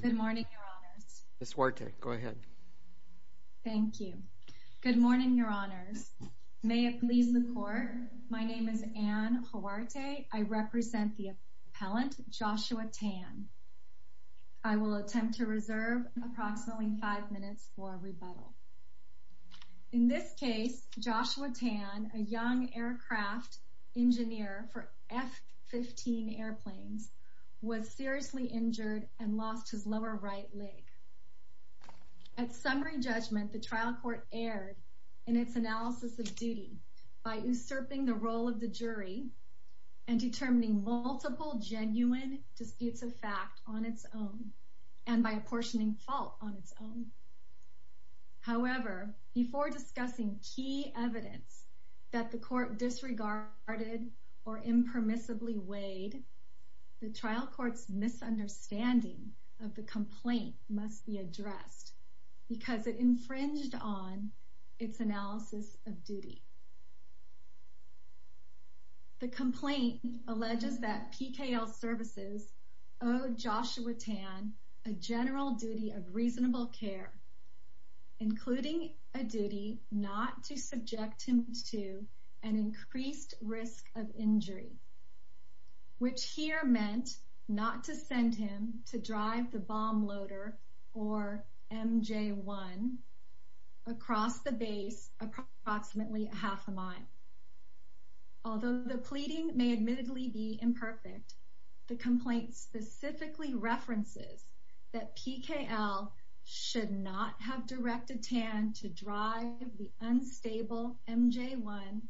Good morning, Your Honors. Ms. Huarte, go ahead. Thank you. Good morning, Your Honors. May it please the Court, my name is Anne Huarte, I represent the appellant Joshua Tan. I will attempt to reserve approximately five minutes for rebuttal. In this case, Joshua Tan, a young aircraft engineer for F-15 airplanes, was seriously injured and lost his lower right leg. At summary judgment, the trial court erred in its analysis of duty by usurping the role of the jury and determining multiple genuine disputes of fact on its own and by apportioning fault on its own. However, before discussing key evidence that the court disregarded or impermissibly weighed, the trial court's misunderstanding of the complaint must be addressed because it infringed The complaint alleges that PKL Services owed Joshua Tan a general duty of reasonable care, including a duty not to subject him to an increased risk of injury, which here meant not to send him to drive the bomb loader, or MJ-1, across the base approximately half a mile. Although the pleading may admittedly be imperfect, the complaint specifically references that PKL should not have directed Tan to drive the unstable MJ-1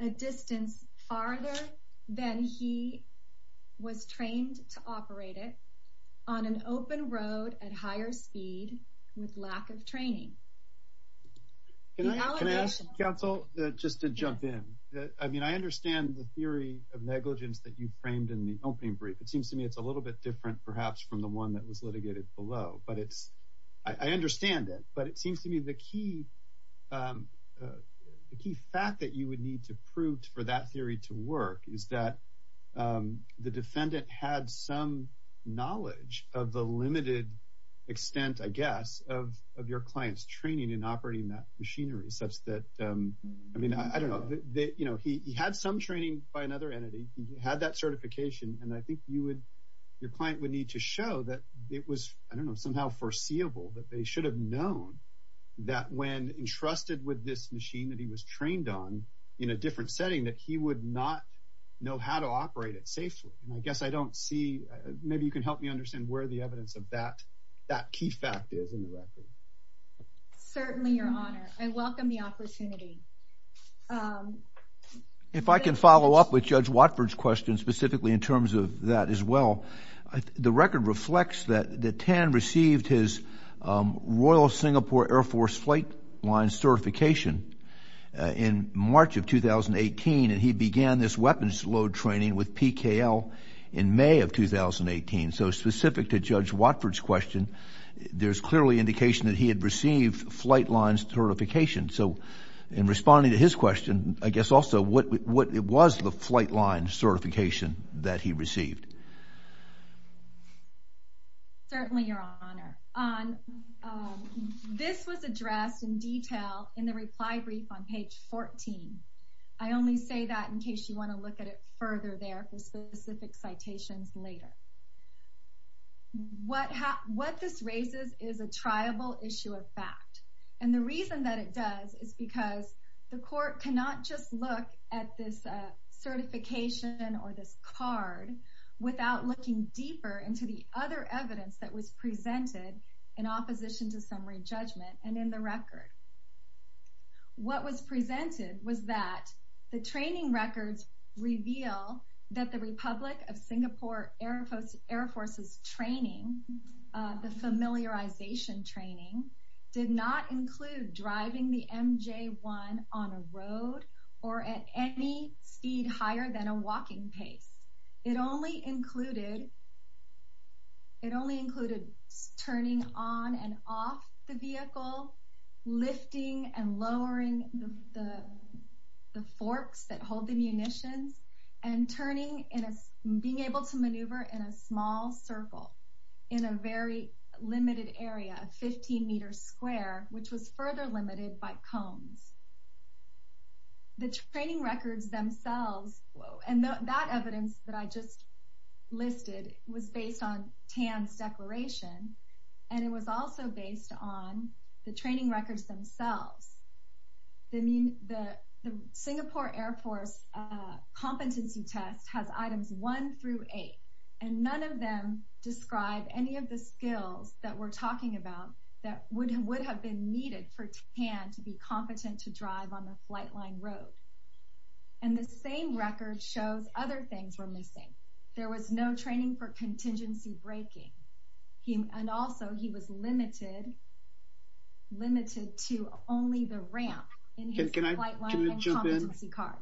a distance farther than he was trained to operate it on an open road at higher speed with lack of training. Can I ask, counsel, just to jump in? I mean, I understand the theory of negligence that you framed in the opening brief. It seems to me it's a little bit different, perhaps, from the one that was litigated below. But I understand it. But it seems to me the key fact that you would need to prove for that theory to work is that the defendant had some knowledge of the limited extent, I guess, of your client's training in operating that machinery such that, I mean, I don't know, you know, he had some training by another entity, he had that certification. And I think you would, your client would need to show that it was, I don't know, somehow foreseeable that they should have known that when entrusted with this machine that he was know how to operate it safely. And I guess I don't see, maybe you can help me understand where the evidence of that key fact is in the record. Certainly, Your Honor. I welcome the opportunity. If I can follow up with Judge Watford's question specifically in terms of that as well, the record reflects that Tan received his Royal Singapore Air Force flight line certification in March of 2018. And he began this weapons load training with PKL in May of 2018. So specific to Judge Watford's question, there's clearly indication that he had received flight lines certification. So in responding to his question, I guess also, what was the flight line certification that he received? Certainly, Your Honor. This was addressed in detail in the reply brief on page 14. I only say that in case you want to look at it further there for specific citations later. What this raises is a triable issue of fact. And the reason that it does is because the court cannot just look at this certification or this card without looking deeper into the other evidence that was presented in opposition to summary judgment and in the record. What was presented was that the training records reveal that the Republic of Singapore Air Force's training, the familiarization training, did not include driving the MJ-1 on a road or at any speed higher than a walking pace. It only included turning on and off the vehicle, lifting and lowering the forks that hold the munitions, and being able to maneuver in a small circle in a very limited area, a 15 meter square, which was further limited by cones. The training records themselves, and that evidence that I just listed was based on Tan's declaration, and it was also based on the training records themselves. The Singapore Air Force competency test has items one through eight, and none of them describe any of the skills that we're talking about that would have been needed for Tan to be competent to drive on the flight line road. And the same record shows other things were missing. There was no training for contingency braking, and also he was limited to only the ramp in his flight line and competency card.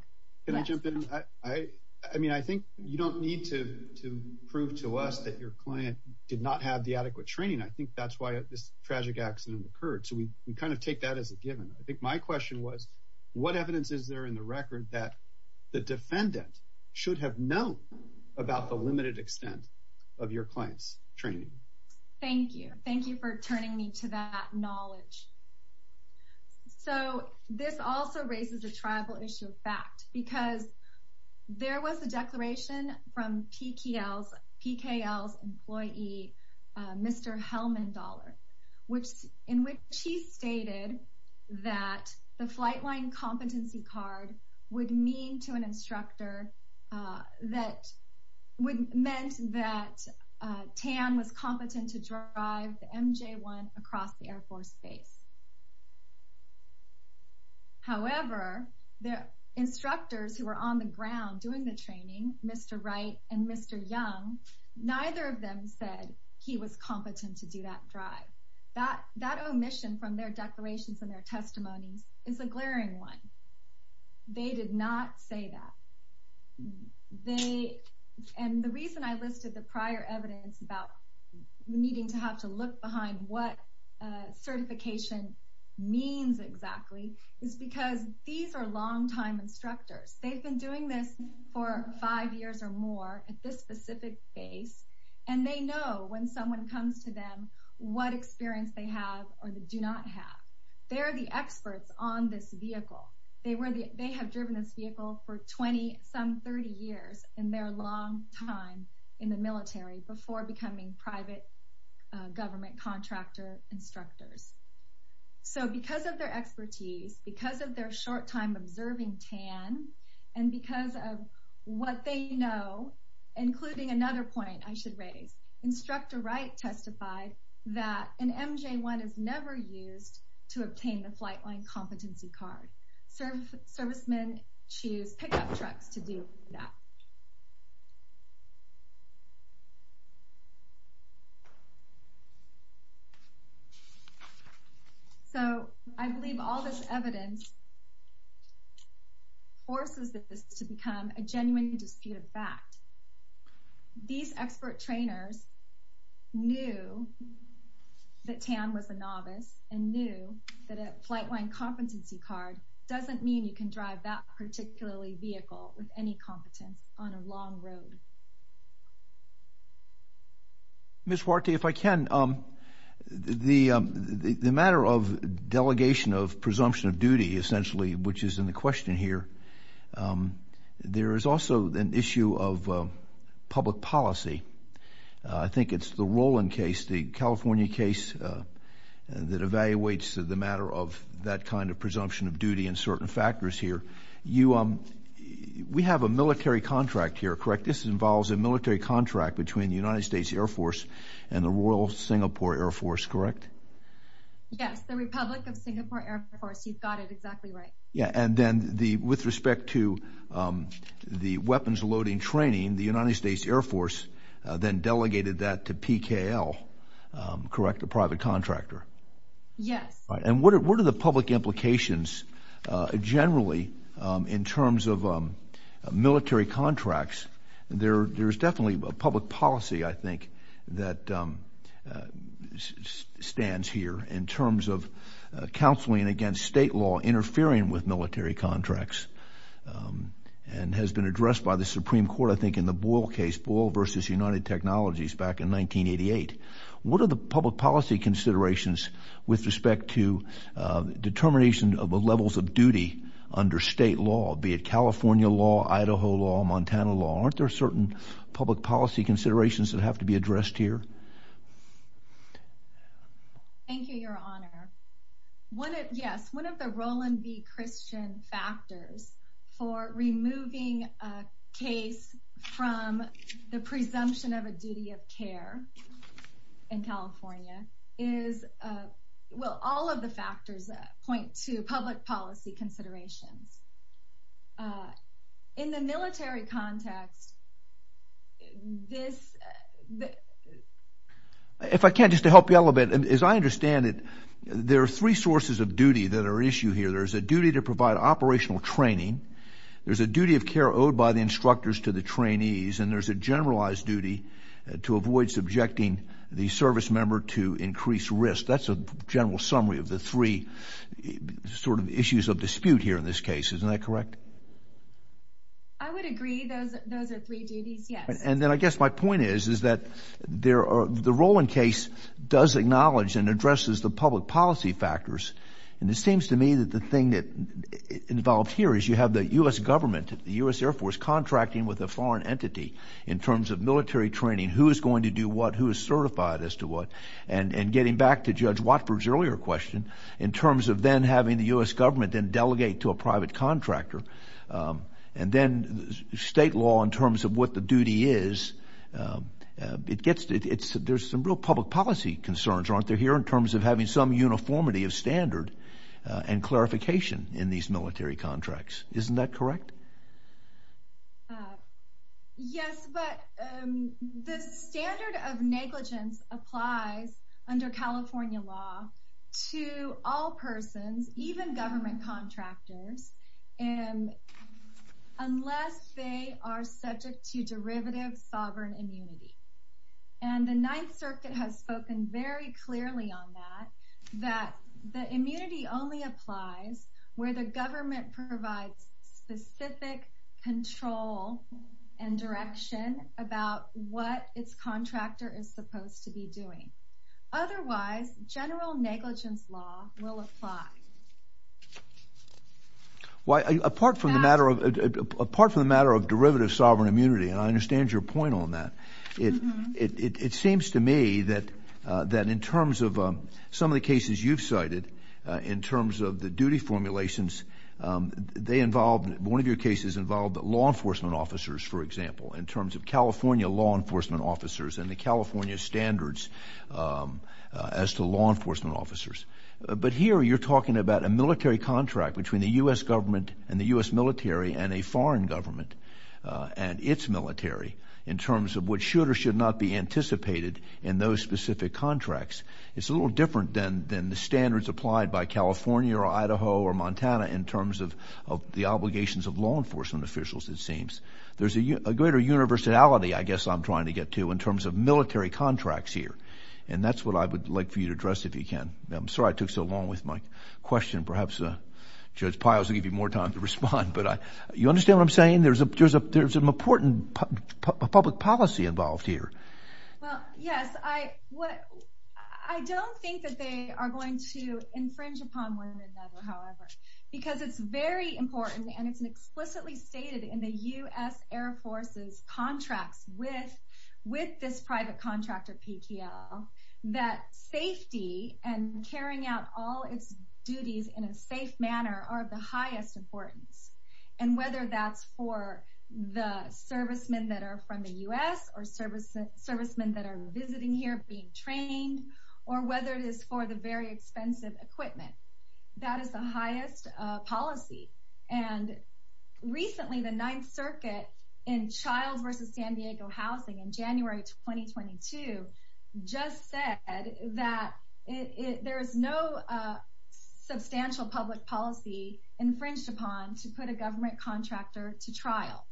Can I jump in? I mean, I think you don't need to prove to us that your client did not have the adequate training. I think that's why this tragic accident occurred. So we kind of take that as a given. I think my question was, what evidence is there in the record that the defendant should have known about the limited extent of your client's training? Thank you. Thank you for turning me to that knowledge. So this also raises a tribal issue of fact, because there was a declaration from PKL's Mr. Helmandaller, in which he stated that the flight line competency card would mean to an instructor that would mean that Tan was competent to drive the MJ-1 across the Air Force base. However, the instructors who were on the ground doing the training, Mr. Wright and Mr. Young, neither of them said he was competent to do that drive. That omission from their declarations and their testimonies is a glaring one. They did not say that. And the reason I listed the prior evidence about needing to have to look behind what certification means exactly is because these are longtime instructors. They've been doing this for five years or more at this specific base, and they know when someone comes to them what experience they have or do not have. They're the experts on this vehicle. They have driven this vehicle for 20, some 30 years in their long time in the military before becoming private government contractor instructors. So because of their expertise, because of their short time observing Tan, and because of what they know, including another point I should raise, Instructor Wright testified that an MJ-1 is never used to obtain the flight line competency card. Servicemen choose pickup trucks to do that. So I believe all this evidence forces this to become a genuine disputed fact. These expert trainers knew that Tan was a novice and knew that a flight line competency card doesn't mean you can drive that particularly vehicle with any competence on a long road. Ms. Warty, if I can, the matter of delegation of presumption of duty, essentially, which is in the question here, there is also an issue of public policy. I think it's the Roland case, the California case that evaluates the matter of that kind of presumption of duty and certain factors here. You, we have a military contract here, correct? This involves a military contract between the United States Air Force and the Royal Singapore Air Force, correct? Yes, the Republic of Singapore Air Force. You've got it exactly right. Yeah. And then with respect to the weapons loading training, the United States Air Force then delegated that to PKL, correct? The private contractor. Yes. Right. And what are the public implications generally in terms of military contracts? There's definitely a public policy, I think, that stands here in terms of counseling against state law interfering with military contracts and has been addressed by the Supreme Court, I think, in the Boyle case, Boyle versus United Technologies back in 1988. What are the public policy considerations with respect to determination of the levels of duty under state law, be it California law, Idaho law, Montana law? Aren't there certain public policy considerations that have to be addressed here? Thank you, Your Honor. One, yes, one of the Roland v. Christian factors for removing a case from the presumption of a duty of care. In California is, well, all of the factors that point to public policy considerations. In the military context, this... If I can, just to help you out a little bit, as I understand it, there are three sources of duty that are at issue here. There's a duty to provide operational training. There's a duty of care owed by the instructors to the trainees. And there's a generalized duty to avoid subjecting the service member to increased risk. That's a general summary of the three sort of issues of dispute here in this case. Isn't that correct? I would agree those are three duties, yes. And then I guess my point is, is that the Roland case does acknowledge and addresses the public policy factors. And it seems to me that the thing that's involved here is you have the U.S. government, the U.S. Air Force contracting with a foreign entity in terms of military training, who is going to do what, who is certified as to what, and getting back to Judge Watford's earlier question, in terms of then having the U.S. government then delegate to a private contractor, and then state law in terms of what the duty is, it gets... There's some real public policy concerns, aren't there, here in terms of having some uniformity of standard and clarification in these military contracts. Isn't that correct? Yes, but the standard of negligence applies under California law to all persons, even government contractors, unless they are subject to derivative sovereign immunity. And the Ninth Circuit has spoken very clearly on that, that the immunity only applies where the government provides specific control and direction about what its contractor is supposed to be doing. Otherwise, general negligence law will apply. Well, apart from the matter of derivative sovereign immunity, and I understand your point on that, it seems to me that in terms of some of the cases you've cited, in terms of the duty formulations, they involve, one of your cases involved law enforcement officers, for example, in terms of California law enforcement officers and the California standards as to law enforcement officers. But here, you're talking about a military contract between the U.S. government and the U.S. military and a foreign government and its military, in terms of what should or should not be anticipated in those specific contracts. It's a little different than the standards applied by California or Idaho or Montana in terms of the obligations of law enforcement officials, it seems. There's a greater universality, I guess I'm trying to get to, in terms of military contracts here. And that's what I would like for you to address, if you can. I'm sorry I took so long with my question. Perhaps Judge Pios will give you more time to respond. But you understand what I'm saying? There's an important public policy involved here. Well, yes, I don't think that they are going to infringe upon one another, however, because it's very important and it's explicitly stated in the U.S. Air Force's contracts with this private contractor, PQL, that safety and carrying out all its duties in a safe manner are of the highest importance. And whether that's for the servicemen that are from the U.S. or servicemen that are visiting here, being trained, or whether it is for the very expensive equipment, that is the highest policy. And recently, the Ninth Circuit in Childs v. San Diego Housing in January 2022 just said that there is no substantial public policy infringed upon to put a government contractor to trial.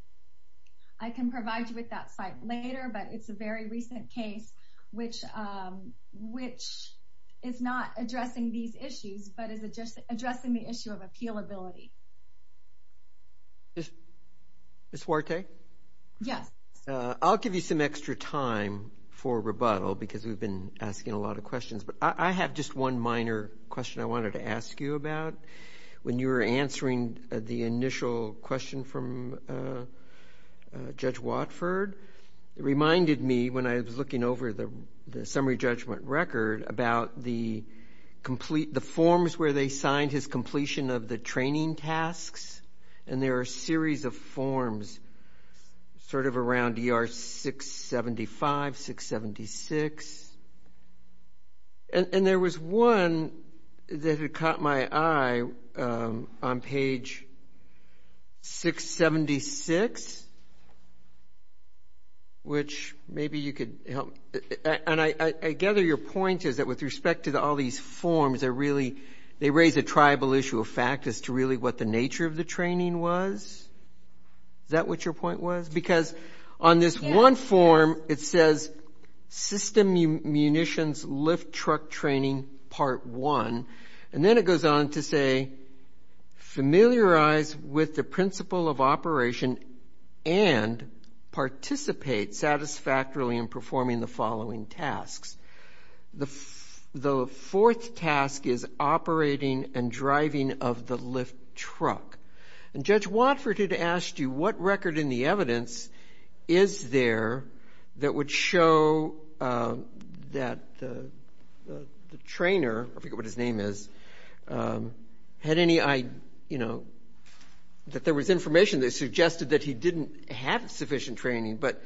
I can provide you with that site later, but it's a very recent case which is not addressing these issues, but is addressing the issue of appealability. Ms. Huarte? Yes. I'll give you some extra time for rebuttal because we've been asking a lot of questions. I have just one minor question I wanted to ask you about. When you were answering the initial question from Judge Watford, it reminded me when I was looking over the summary judgment record about the forms where they signed his completion of the training tasks. And there are a series of forms sort of around ER 675, 676. And there was one that had caught my eye on page 676, which maybe you could help. And I gather your point is that with respect to all these forms, they raise a tribal issue of fact as to really what the nature of the training was. Is that what your point was? Because on this one form, it says system munitions lift truck training part one. And then it goes on to say, familiarize with the principle of operation and participate satisfactorily in performing the following tasks. The fourth task is operating and driving of the lift truck. And Judge Watford had asked you what record in the evidence is there that would show that the trainer, I forget what his name is, had any, you know, that there was information that suggested that he didn't have sufficient training. But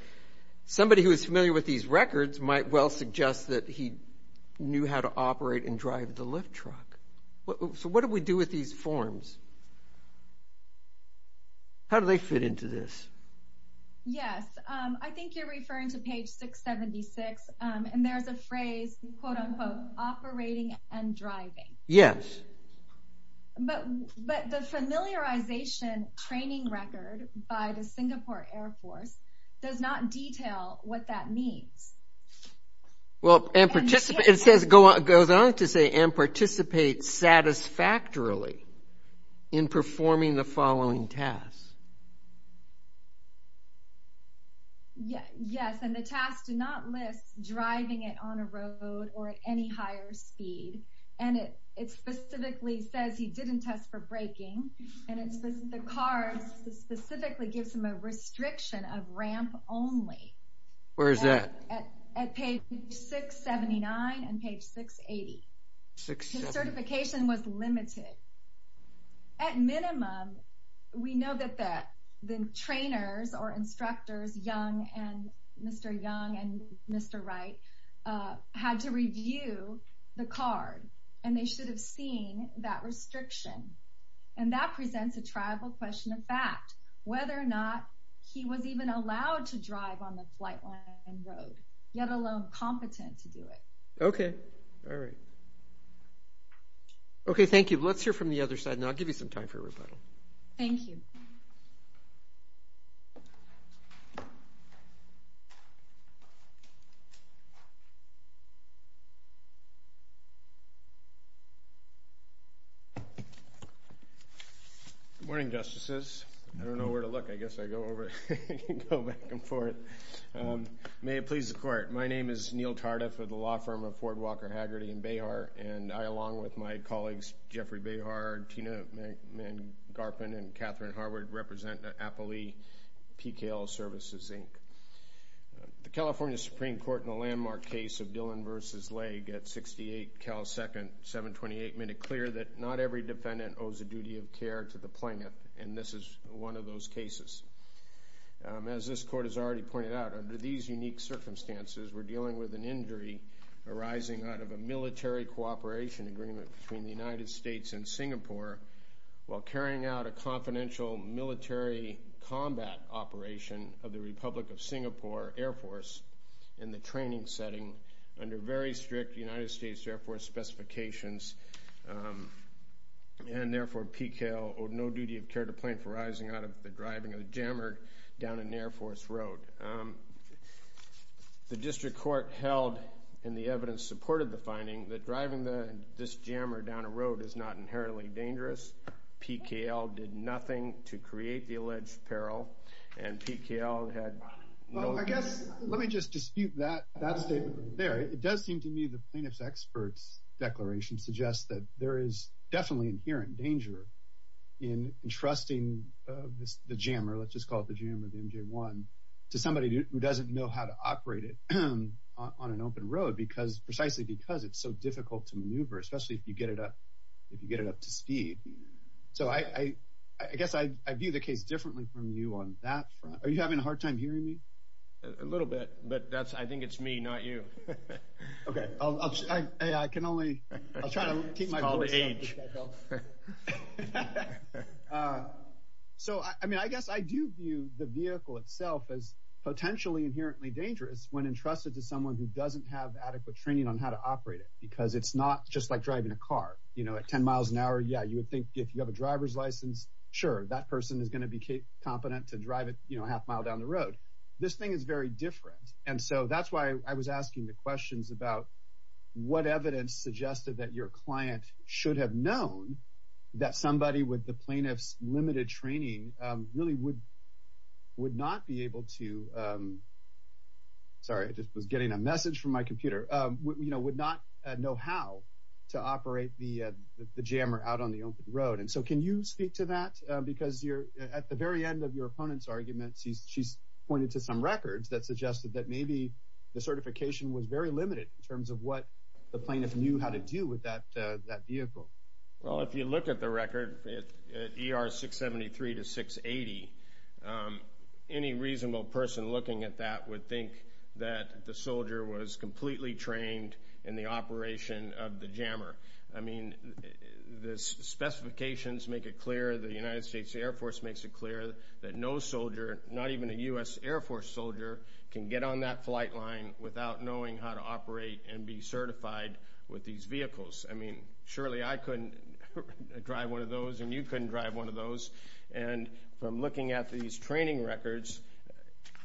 somebody who is familiar with these records might well suggest that he knew how to operate and drive the lift truck. So what do we do with these forms? How do they fit into this? Yes, I think you're referring to page 676. And there's a phrase, quote unquote, operating and driving. Yes. But the familiarization training record by the Singapore Air Force does not detail what that means. Well, and participate, it says, it goes on to say and participate satisfactorily in performing the following tasks. Yes, and the task does not list driving it on a road or at any higher speed. And it specifically says he didn't test for braking. And the car specifically gives him a restriction of ramp only. Where is that? At page 679 and page 680. His certification was limited. At minimum, we know that the trainers or instructors, Mr. Young and Mr. Wright, had to review the card and they should have seen that restriction. And that presents a tribal question of fact, whether or not he was even allowed to drive on the flight line road. Let alone competent to do it. Okay. All right. Okay, thank you. Let's hear from the other side and I'll give you some time for rebuttal. Thank you. Good morning, Justices. I don't know where to look. I guess I go over, go back and forth. May it please the Court. My name is Neil Tardif of the law firm of Ford, Walker, Haggerty, and Behar. And I, along with my colleagues, Jeffrey Behar, Tina Mangarpen, and Catherine Harwood, represent the Appalee PKL Services, Inc. The California Supreme Court in the landmark case of Dillon v. Legge at 68 Cal Second, 728, made it clear that not every defendant owes a duty of care to the plaintiff. And this is one of those cases. As this Court has already pointed out, under these unique circumstances, we're dealing with an injury arising out of a military cooperation agreement between the United States and Singapore, while carrying out a confidential military combat operation of the Republic of Singapore Air Force in the training setting under very strict United States Air Force specifications. And therefore, PKL owed no duty of care to the plaintiff arising out of the driving of a jammer down an Air Force road. The district court held, and the evidence supported the finding, that driving this jammer down a road is not inherently dangerous. PKL did nothing to create the alleged peril. And PKL had no... Well, I guess, let me just dispute that statement there. It does seem to me the plaintiff's expert's declaration suggests that there is definitely inherent danger in entrusting the jammer, let's just call it the jammer, the MJ-1, to somebody who doesn't know how to operate it on an open road, precisely because it's so difficult to maneuver, especially if you get it up to speed. So I guess I view the case differently from you on that front. Are you having a hard time hearing me? A little bit, but I think it's me, not you. Okay, I can only... I'll try to keep my voice down. It's called age. So, I mean, I guess I do view the vehicle itself as potentially inherently dangerous when entrusted to someone who doesn't have adequate training on how to operate it, because it's not just like driving a car. You know, at 10 miles an hour, yeah, you would think if you have a driver's license, sure, that person is going to be competent to drive it, you know, a half mile down the road. This thing is very different. And so that's why I was asking the questions about what evidence suggested that your client should have known that somebody with the plaintiff's limited training really would not be able to, sorry, I just was getting a message from my computer, you know, would not know how to operate the jammer out on the open road. And so can you speak to that? Because at the very end of your opponent's argument, she's pointed to some records that suggested that maybe the certification was very limited in terms of what the plaintiff knew how to do with that vehicle. Well, if you look at the record, at ER 673 to 680, any reasonable person looking at that would think that the soldier was completely trained in the operation of the jammer. I mean, the specifications make it clear, the United States Air Force makes it clear that no soldier, not even a U.S. Air Force soldier, can get on that flight line without knowing how to operate and be certified with these vehicles. I mean, surely I couldn't drive one of those and you couldn't drive one of those. And from looking at these training records,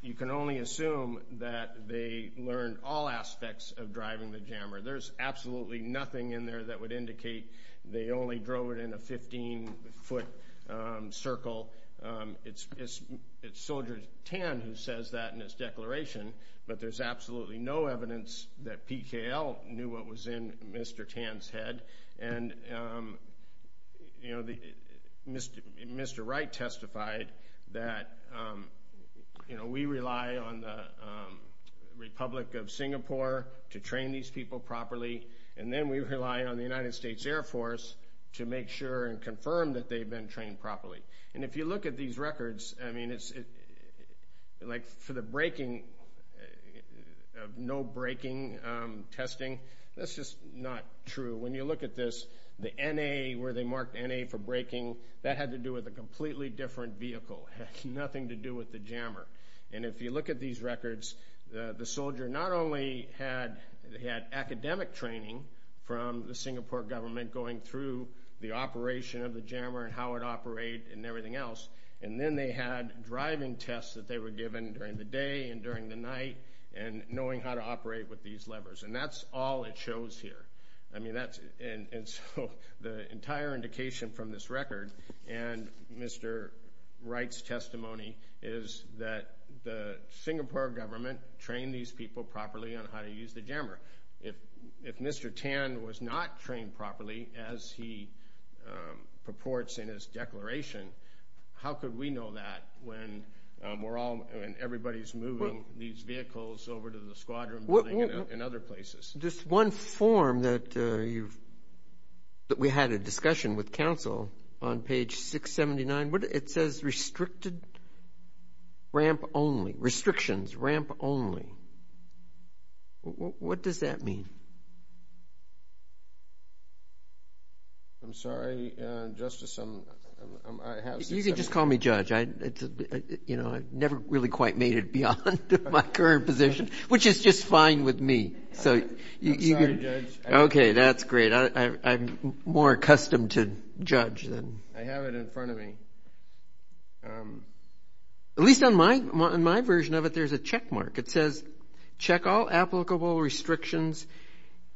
you can only assume that they learned all aspects of driving the jammer. There's absolutely nothing in there that would indicate they only drove it in a 15-foot circle. It's Soldier Tan who says that in his declaration, but there's absolutely no evidence that PKL knew what was in Mr. Tan's head. And, you know, Mr. Wright testified that, you know, we rely on the Republic of Singapore to train these people properly, and then we rely on the United States Air Force to make sure and confirm that they've been trained properly. And if you look at these records, I mean, it's like for the braking, no braking testing, that's just not true. When you look at this, the NA, where they marked NA for braking, that had to do with a completely different vehicle. It had nothing to do with the jammer. And if you look at these records, the soldier not only had academic training from the Singapore government going through the operation of the jammer and how it operated and everything else, and then they had driving tests that they were given during the day and during the night, and knowing how to operate with these levers. And that's all it shows here. I mean, that's, and so the entire indication from this record, and Mr. Wright's testimony, is that the Singapore government trained these people properly on how to use the jammer. If Mr. Tan was not trained properly, as he purports in his declaration, how could we know that when we're all, when everybody's moving these vehicles over to the squadron building and other places? Just one form that you've, that we had a discussion with council on page 679. What, it says restricted ramp only, restrictions ramp only. What does that mean? I'm sorry, Justice, I'm, I have 679. You can just call me Judge. I, you know, I never really quite made it beyond my current position, which is just fine with me. So you can. I'm sorry, Judge. Okay, that's great. I'm more accustomed to Judge than. I have it in front of me. At least on my, on my version of it, there's a checkmark. It says, check all applicable restrictions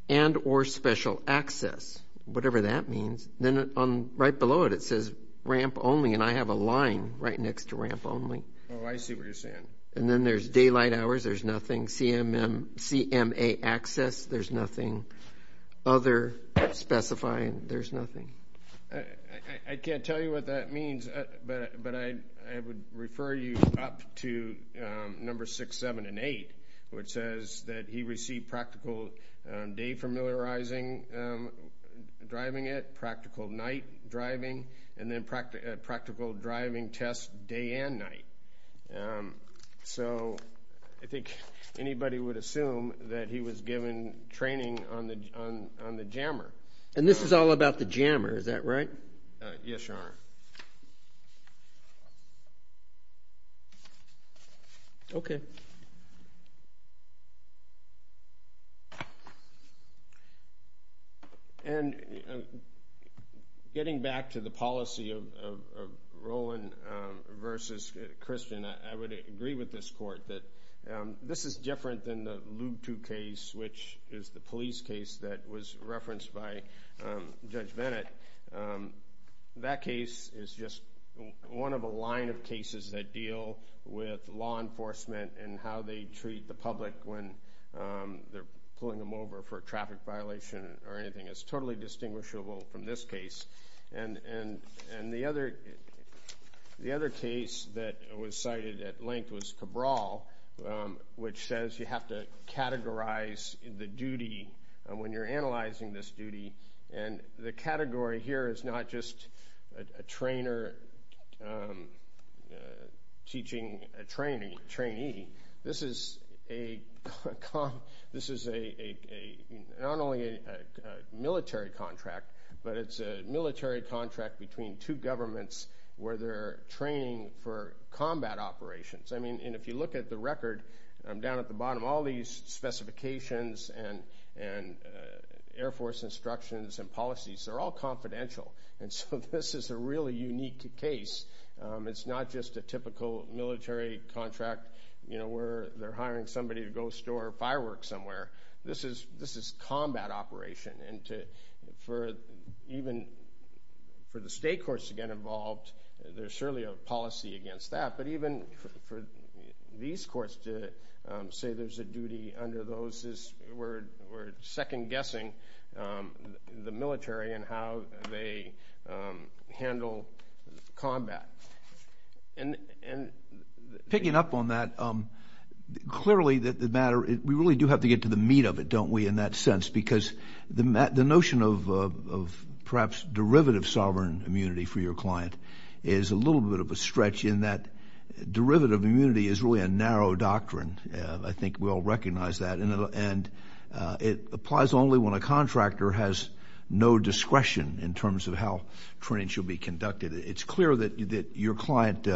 and or special access, whatever that means. Then on, right below it, it says ramp only, and I have a line right next to ramp only. Oh, I see what you're saying. And then there's daylight hours, there's nothing. CMM, CMA access, there's nothing. Other specifying, there's nothing. I can't tell you what that means, but I would refer you up to number six, seven, and eight, which says that he received practical day familiarizing driving it, practical night driving, and then practical driving test day and night. So I think anybody would assume that he was given training on the jammer. And this is all about the jammer, is that right? Yes, Your Honor. Okay. And getting back to the policy of Rowland versus Christian, I would agree with this court that this is different than the Lube II case, which is the police case that was referenced by Judge Bennett, that case is just one of a line of cases that deal with law enforcement and how they treat the public when they're pulling them over for a traffic violation or anything. It's totally distinguishable from this case. And the other case that was cited at length was Cabral, which says you have to categorize the duty when you're analyzing this duty, and the category here is not just a trainer teaching a trainee. This is a, not only a military contract, but it's a military contract between two governments where they're training for combat operations. I mean, and if you look at the record down at the bottom, all these specifications and Air Force instructions and policies, they're all confidential. And so this is a really unique case. It's not just a typical military contract, you know, where they're hiring somebody to go store fireworks somewhere. This is combat operation. And to, for even, for the state courts to get involved, there's surely a policy against that. But even for these courts to say there's a duty under those, we're second-guessing the military and how they handle combat. And picking up on that, clearly the matter, we really do have to get to the meat of it, don't we, in that sense, because the notion of perhaps derivative sovereign immunity for your client is a little bit of a stretch in that derivative immunity is really a narrow doctrine. I think we all recognize that. And it applies only when a contractor has no discretion in terms of how training should be conducted. It's clear that your client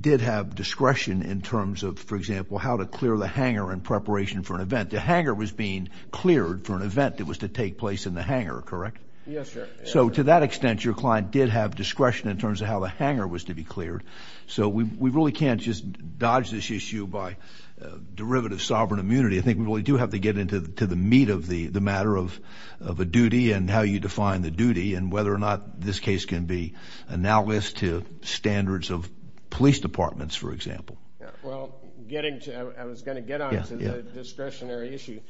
did have discretion in terms of, for example, how to clear the hangar in preparation for an event. The hangar was being cleared for an event that was to take place in the hangar, correct? Yes, sir. So to that extent, your client did have discretion in terms of how the hangar was to be cleared. So we really can't just dodge this issue by derivative sovereign immunity. I think we really do have to get into the meat of the matter of a duty and how you define the duty and whether or not this case can be analysed to standards of police departments, for example. Well, getting to, I was going to get on to the discretionary issue,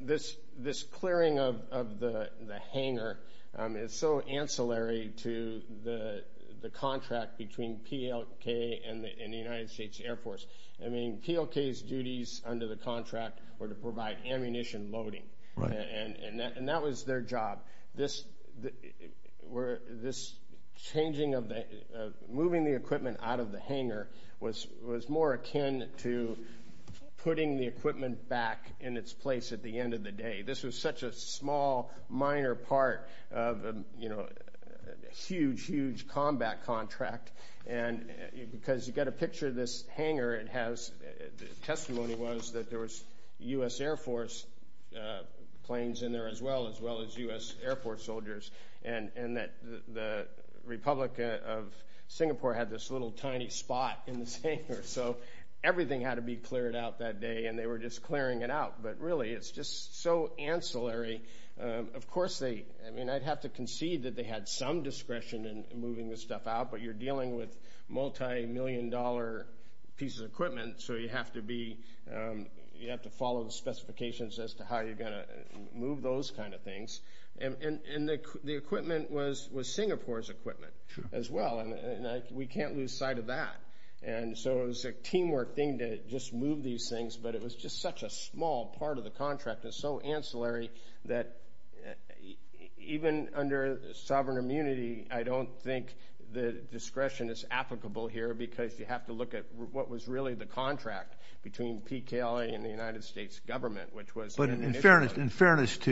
this clearing of the hangar is so ancillary to the contract between PLK and the United States Air Force. I mean, PLK's duties under the contract were to provide ammunition loading. And that was their job. This changing of the, moving the equipment out of the hangar was more akin to putting the equipment back in its place at the end of the day. This was such a small, minor part of, you know, a huge, huge combat contract. And because you get a picture of this hangar, it has, the testimony was that there was U.S. Air Force planes in there as well, as well as U.S. Air Force soldiers. And that the Republic of Singapore had this little tiny spot in this hangar. So everything had to be cleared out that day. And they were just clearing it out. But really, it's just so ancillary. Of course, they, I mean, I'd have to concede that they had some discretion in moving this stuff out. But you're dealing with multi-million dollar pieces of equipment. So you have to be, you have to follow the specifications as to how you're going to move those kind of things. And the equipment was Singapore's equipment as well. And we can't lose sight of that. And so it was a teamwork thing to just move these things. But it was just such a small part of the contract. It's so ancillary that even under sovereign immunity, I don't think the discretion is applicable here. Because you have to look at what was really the contract between P.K.L.A. and the United States government, which was... But in fairness to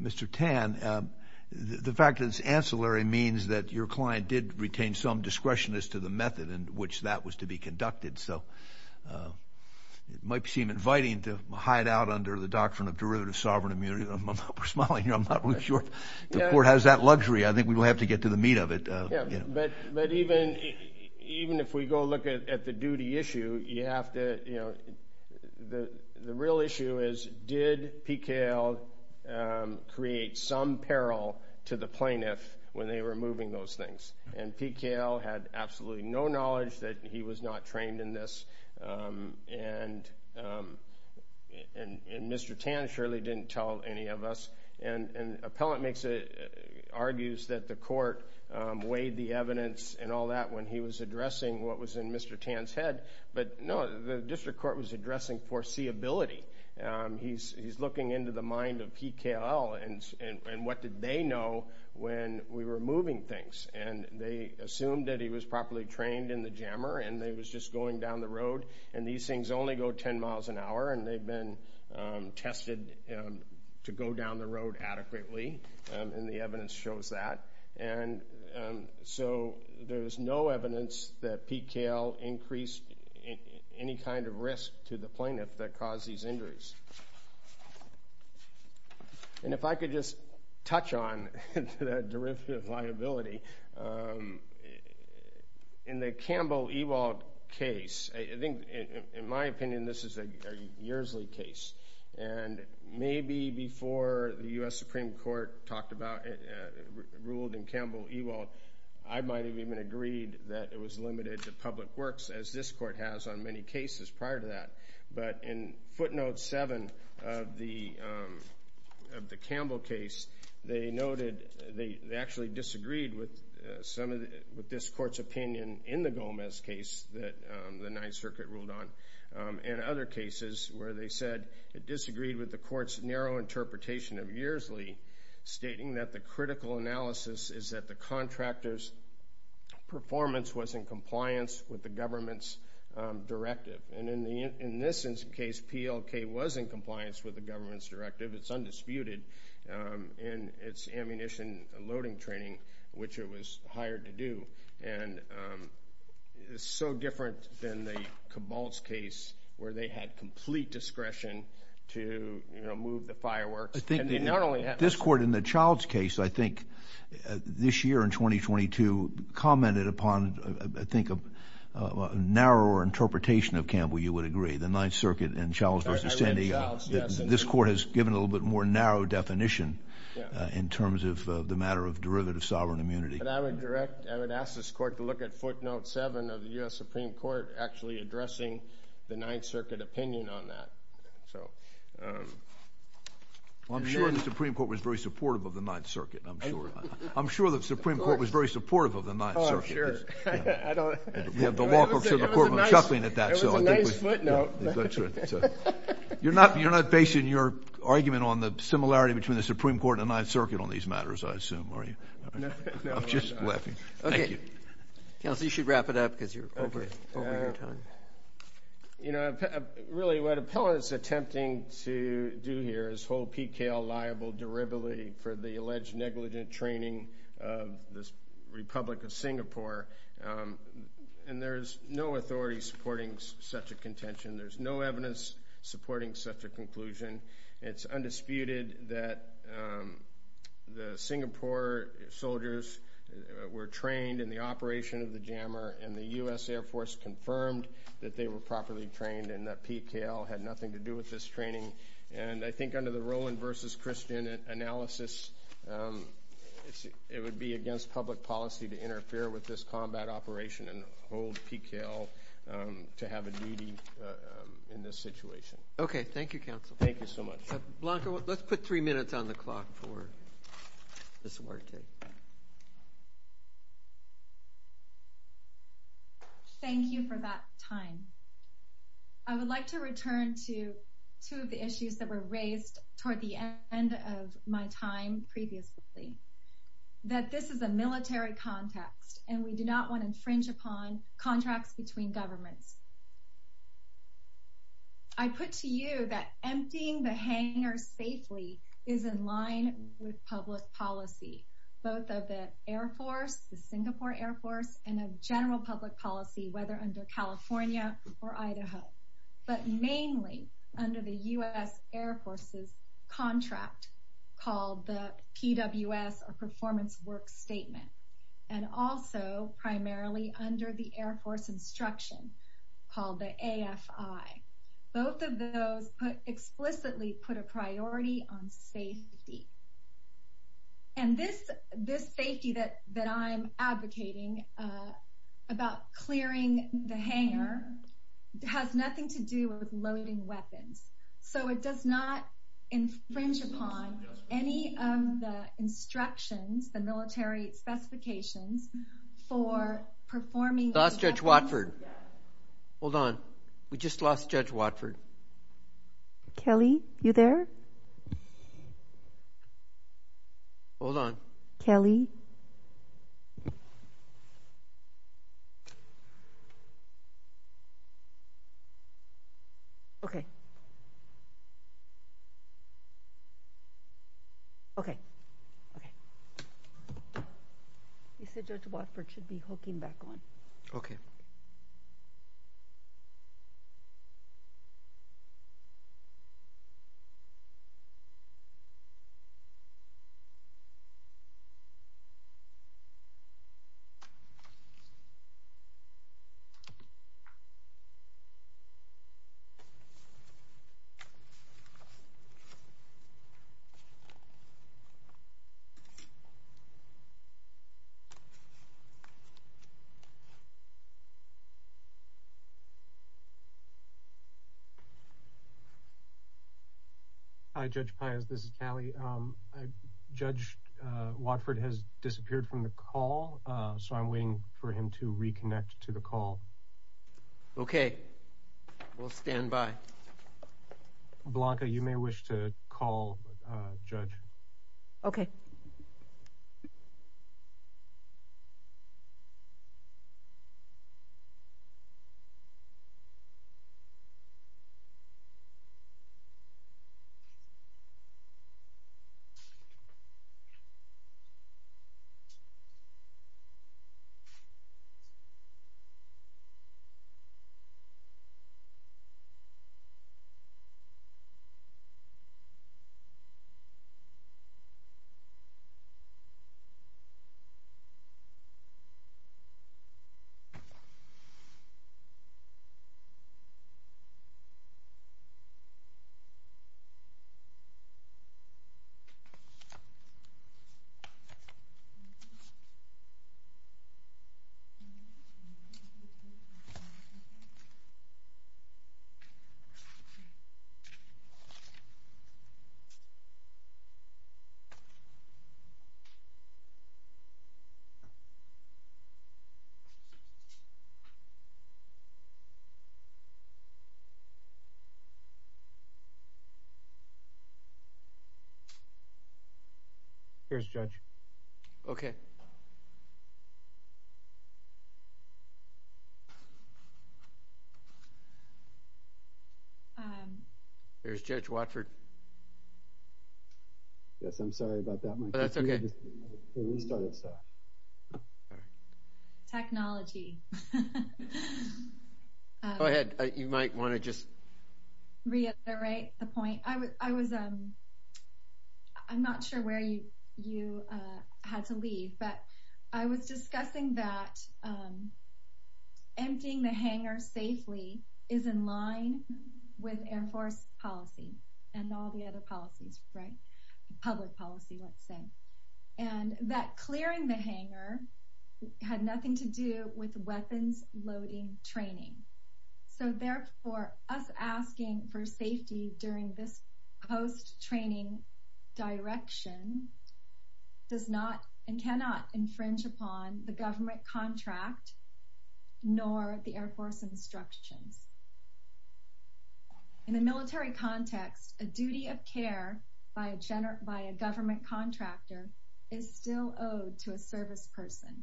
Mr. Tan, the fact that it's ancillary means that your client did retain some discretion as to the method in which that was to be conducted. So it might seem inviting to hide out under the doctrine of derivative sovereign immunity. I'm smiling here. I'm not really sure the court has that luxury. I think we will have to get to the meat of it. But even if we go look at the duty issue, you have to, you know, the real issue is, did P.K.L. create some peril to the plaintiff when they were moving those things? And P.K.L. had absolutely no knowledge that he was not trained in this. And Mr. Tan surely didn't tell any of us. And an appellant argues that the court weighed the evidence and all that when he was addressing what was in Mr. Tan's head. But no, the district court was addressing foreseeability. He's looking into the mind of P.K.L. and what did they know when we were moving things? And they assumed that he was properly trained in the jammer. And they was just going down the road. And these things only go 10 miles an hour. And they've been tested to go down the road adequately. And the evidence shows that. And so there's no evidence that P.K.L. increased any kind of risk to the plaintiff that caused these injuries. And if I could just touch on the derivative liability, in the Campbell-Ewald case, I think in my opinion, this is a yearsly case. And maybe before the U.S. Supreme Court talked about it, ruled in Campbell-Ewald, I might have even agreed that it was limited to public works, as this court has on many cases prior to that. But in footnote 7 of the Campbell case, they noted they actually disagreed with some of this court's opinion in the Gomez case that the Ninth Circuit ruled on. And other cases where they said it disagreed with the court's narrow interpretation of yearsly, stating that the critical analysis is that the contractor's performance was in compliance with the government's directive. And in this case, P.L.K. was in compliance with the government's directive. It's undisputed. And it's ammunition loading training, which it was hired to do. And it's so different than the Cabalt's case, where they had complete discretion to move the fireworks. I think this court in the Childs case, I think, this year in 2022, commented upon, I think, a narrower interpretation of Campbell, you would agree, the Ninth Circuit and Childs v. Cindy. This court has given a little bit more narrow definition in terms of the matter of derivative sovereign immunity. But I would ask this court to look at footnote 7 of the U.S. Supreme Court actually addressing the Ninth Circuit opinion on that. So I'm sure the Supreme Court was very supportive of the Ninth Circuit. I'm sure. I'm sure the Supreme Court was very supportive of the Ninth Circuit. Oh, I'm sure. We have the law courts in the courtroom shuffling at that. It was a nice footnote. You're not basing your argument on the similarity between the Supreme Court and the Ninth Circuit on these matters, I assume, are you? No, I'm not. I'm just laughing. Thank you. Counsel, you should wrap it up because you're over your time. You know, really what Appellant is attempting to do here is hold P.K.L. liable derivatively for the alleged negligent training of the Republic of Singapore. And there's no authority supporting such a contention. There's no evidence supporting such a conclusion. It's undisputed that the Singapore soldiers were trained in the operation of the jammer, and the U.S. Air Force confirmed that they were properly trained and that P.K.L. had nothing to do with this training. And I think under the Rowan v. Christian analysis, it would be against public policy to interfere with this combat operation and hold P.K.L. to have a duty in this situation. Okay. Thank you, Counsel. Thank you so much. Blanca, let's put three minutes on the clock for this wartime. Thank you for that time. I would like to return to two of the issues that were raised toward the end of my time previously. That this is a military context, and we do not want to infringe upon contracts between governments. I put to you that emptying the hangar safely is in line with public policy, both of the Air Force, the Singapore Air Force, and of general public policy, whether under California or Idaho, but mainly under the U.S. Air Force's contract called the P.W.S., or Performance Work Statement, and also primarily under the Air Force instruction. Both of those explicitly put a priority on safety. And this safety that I'm advocating about clearing the hangar has nothing to do with loading weapons. So it does not infringe upon any of the instructions, the military specifications, for performing— Lost Judge Watford. Hold on. We just lost Judge Watford. Kelly, you there? Hold on. Kelly? Okay. Okay. You said Judge Watford should be hooking back on. Okay. Hi, Judge Pius. This is Kelly. Judge Watford has disappeared from the call, so I'm waiting for him to reconnect to the call. Okay. We'll stand by. Blanca, you may wish to call Judge. Okay. Here's Judge. Okay. Here's Judge Watford. Yes, I'm sorry about that, Mike. That's okay. Technology. Go ahead. You might want to just— Reiterate the point. I was—I'm not sure where you had to leave, but I was discussing that emptying the hangar safely is in line with Air Force policy and all the other policies, right? Public policy, let's say. And that clearing the hangar had nothing to do with weapons loading training. So therefore, us asking for safety during this post-training direction does not and cannot infringe upon the government contract nor the Air Force instructions. In the military context, a duty of care by a government contractor is still owed to a service person.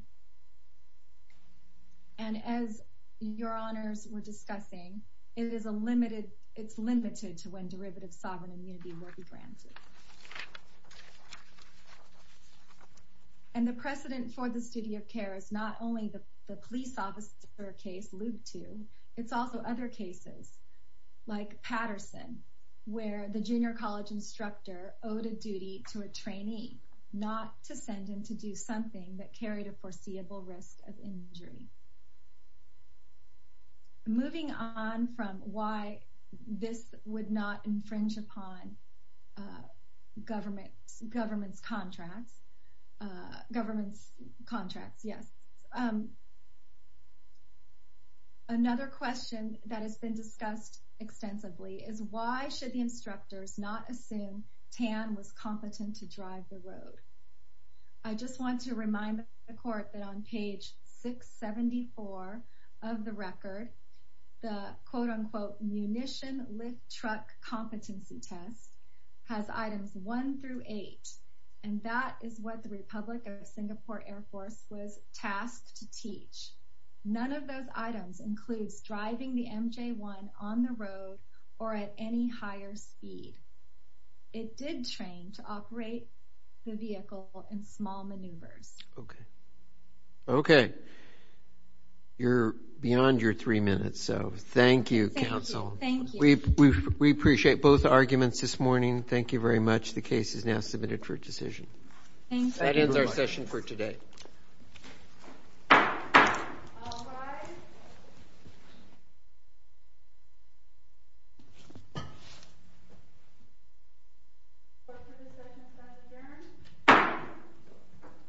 And as your honors were discussing, it is a limited—it's limited to when derivative sovereign immunity will be granted. And the precedent for the duty of care is not only the police officer case Lube II, it's also other cases like Patterson, where the junior college instructor owed a duty to a trainee not to send him to do something that carried a foreseeable risk of injury. Moving on from why this would not infringe upon government's contracts—government's contracts, yes—another question that has been discussed extensively is why should the instructors not assume TAM was competent to drive the road? I just want to remind the court that on page 674 of the record, the, quote-unquote, munition lift truck competency test has items one through eight, and that is what the Republic of Singapore Air Force was tasked to teach. None of those items includes driving the MJ-1 on the road or at any higher speed. It did train to operate the vehicle in small maneuvers. Okay. Okay. You're beyond your three minutes, so thank you, counsel. Thank you. We appreciate both arguments this morning. Thank you very much. The case is now submitted for decision. Thank you. That ends our session for today. Thank you.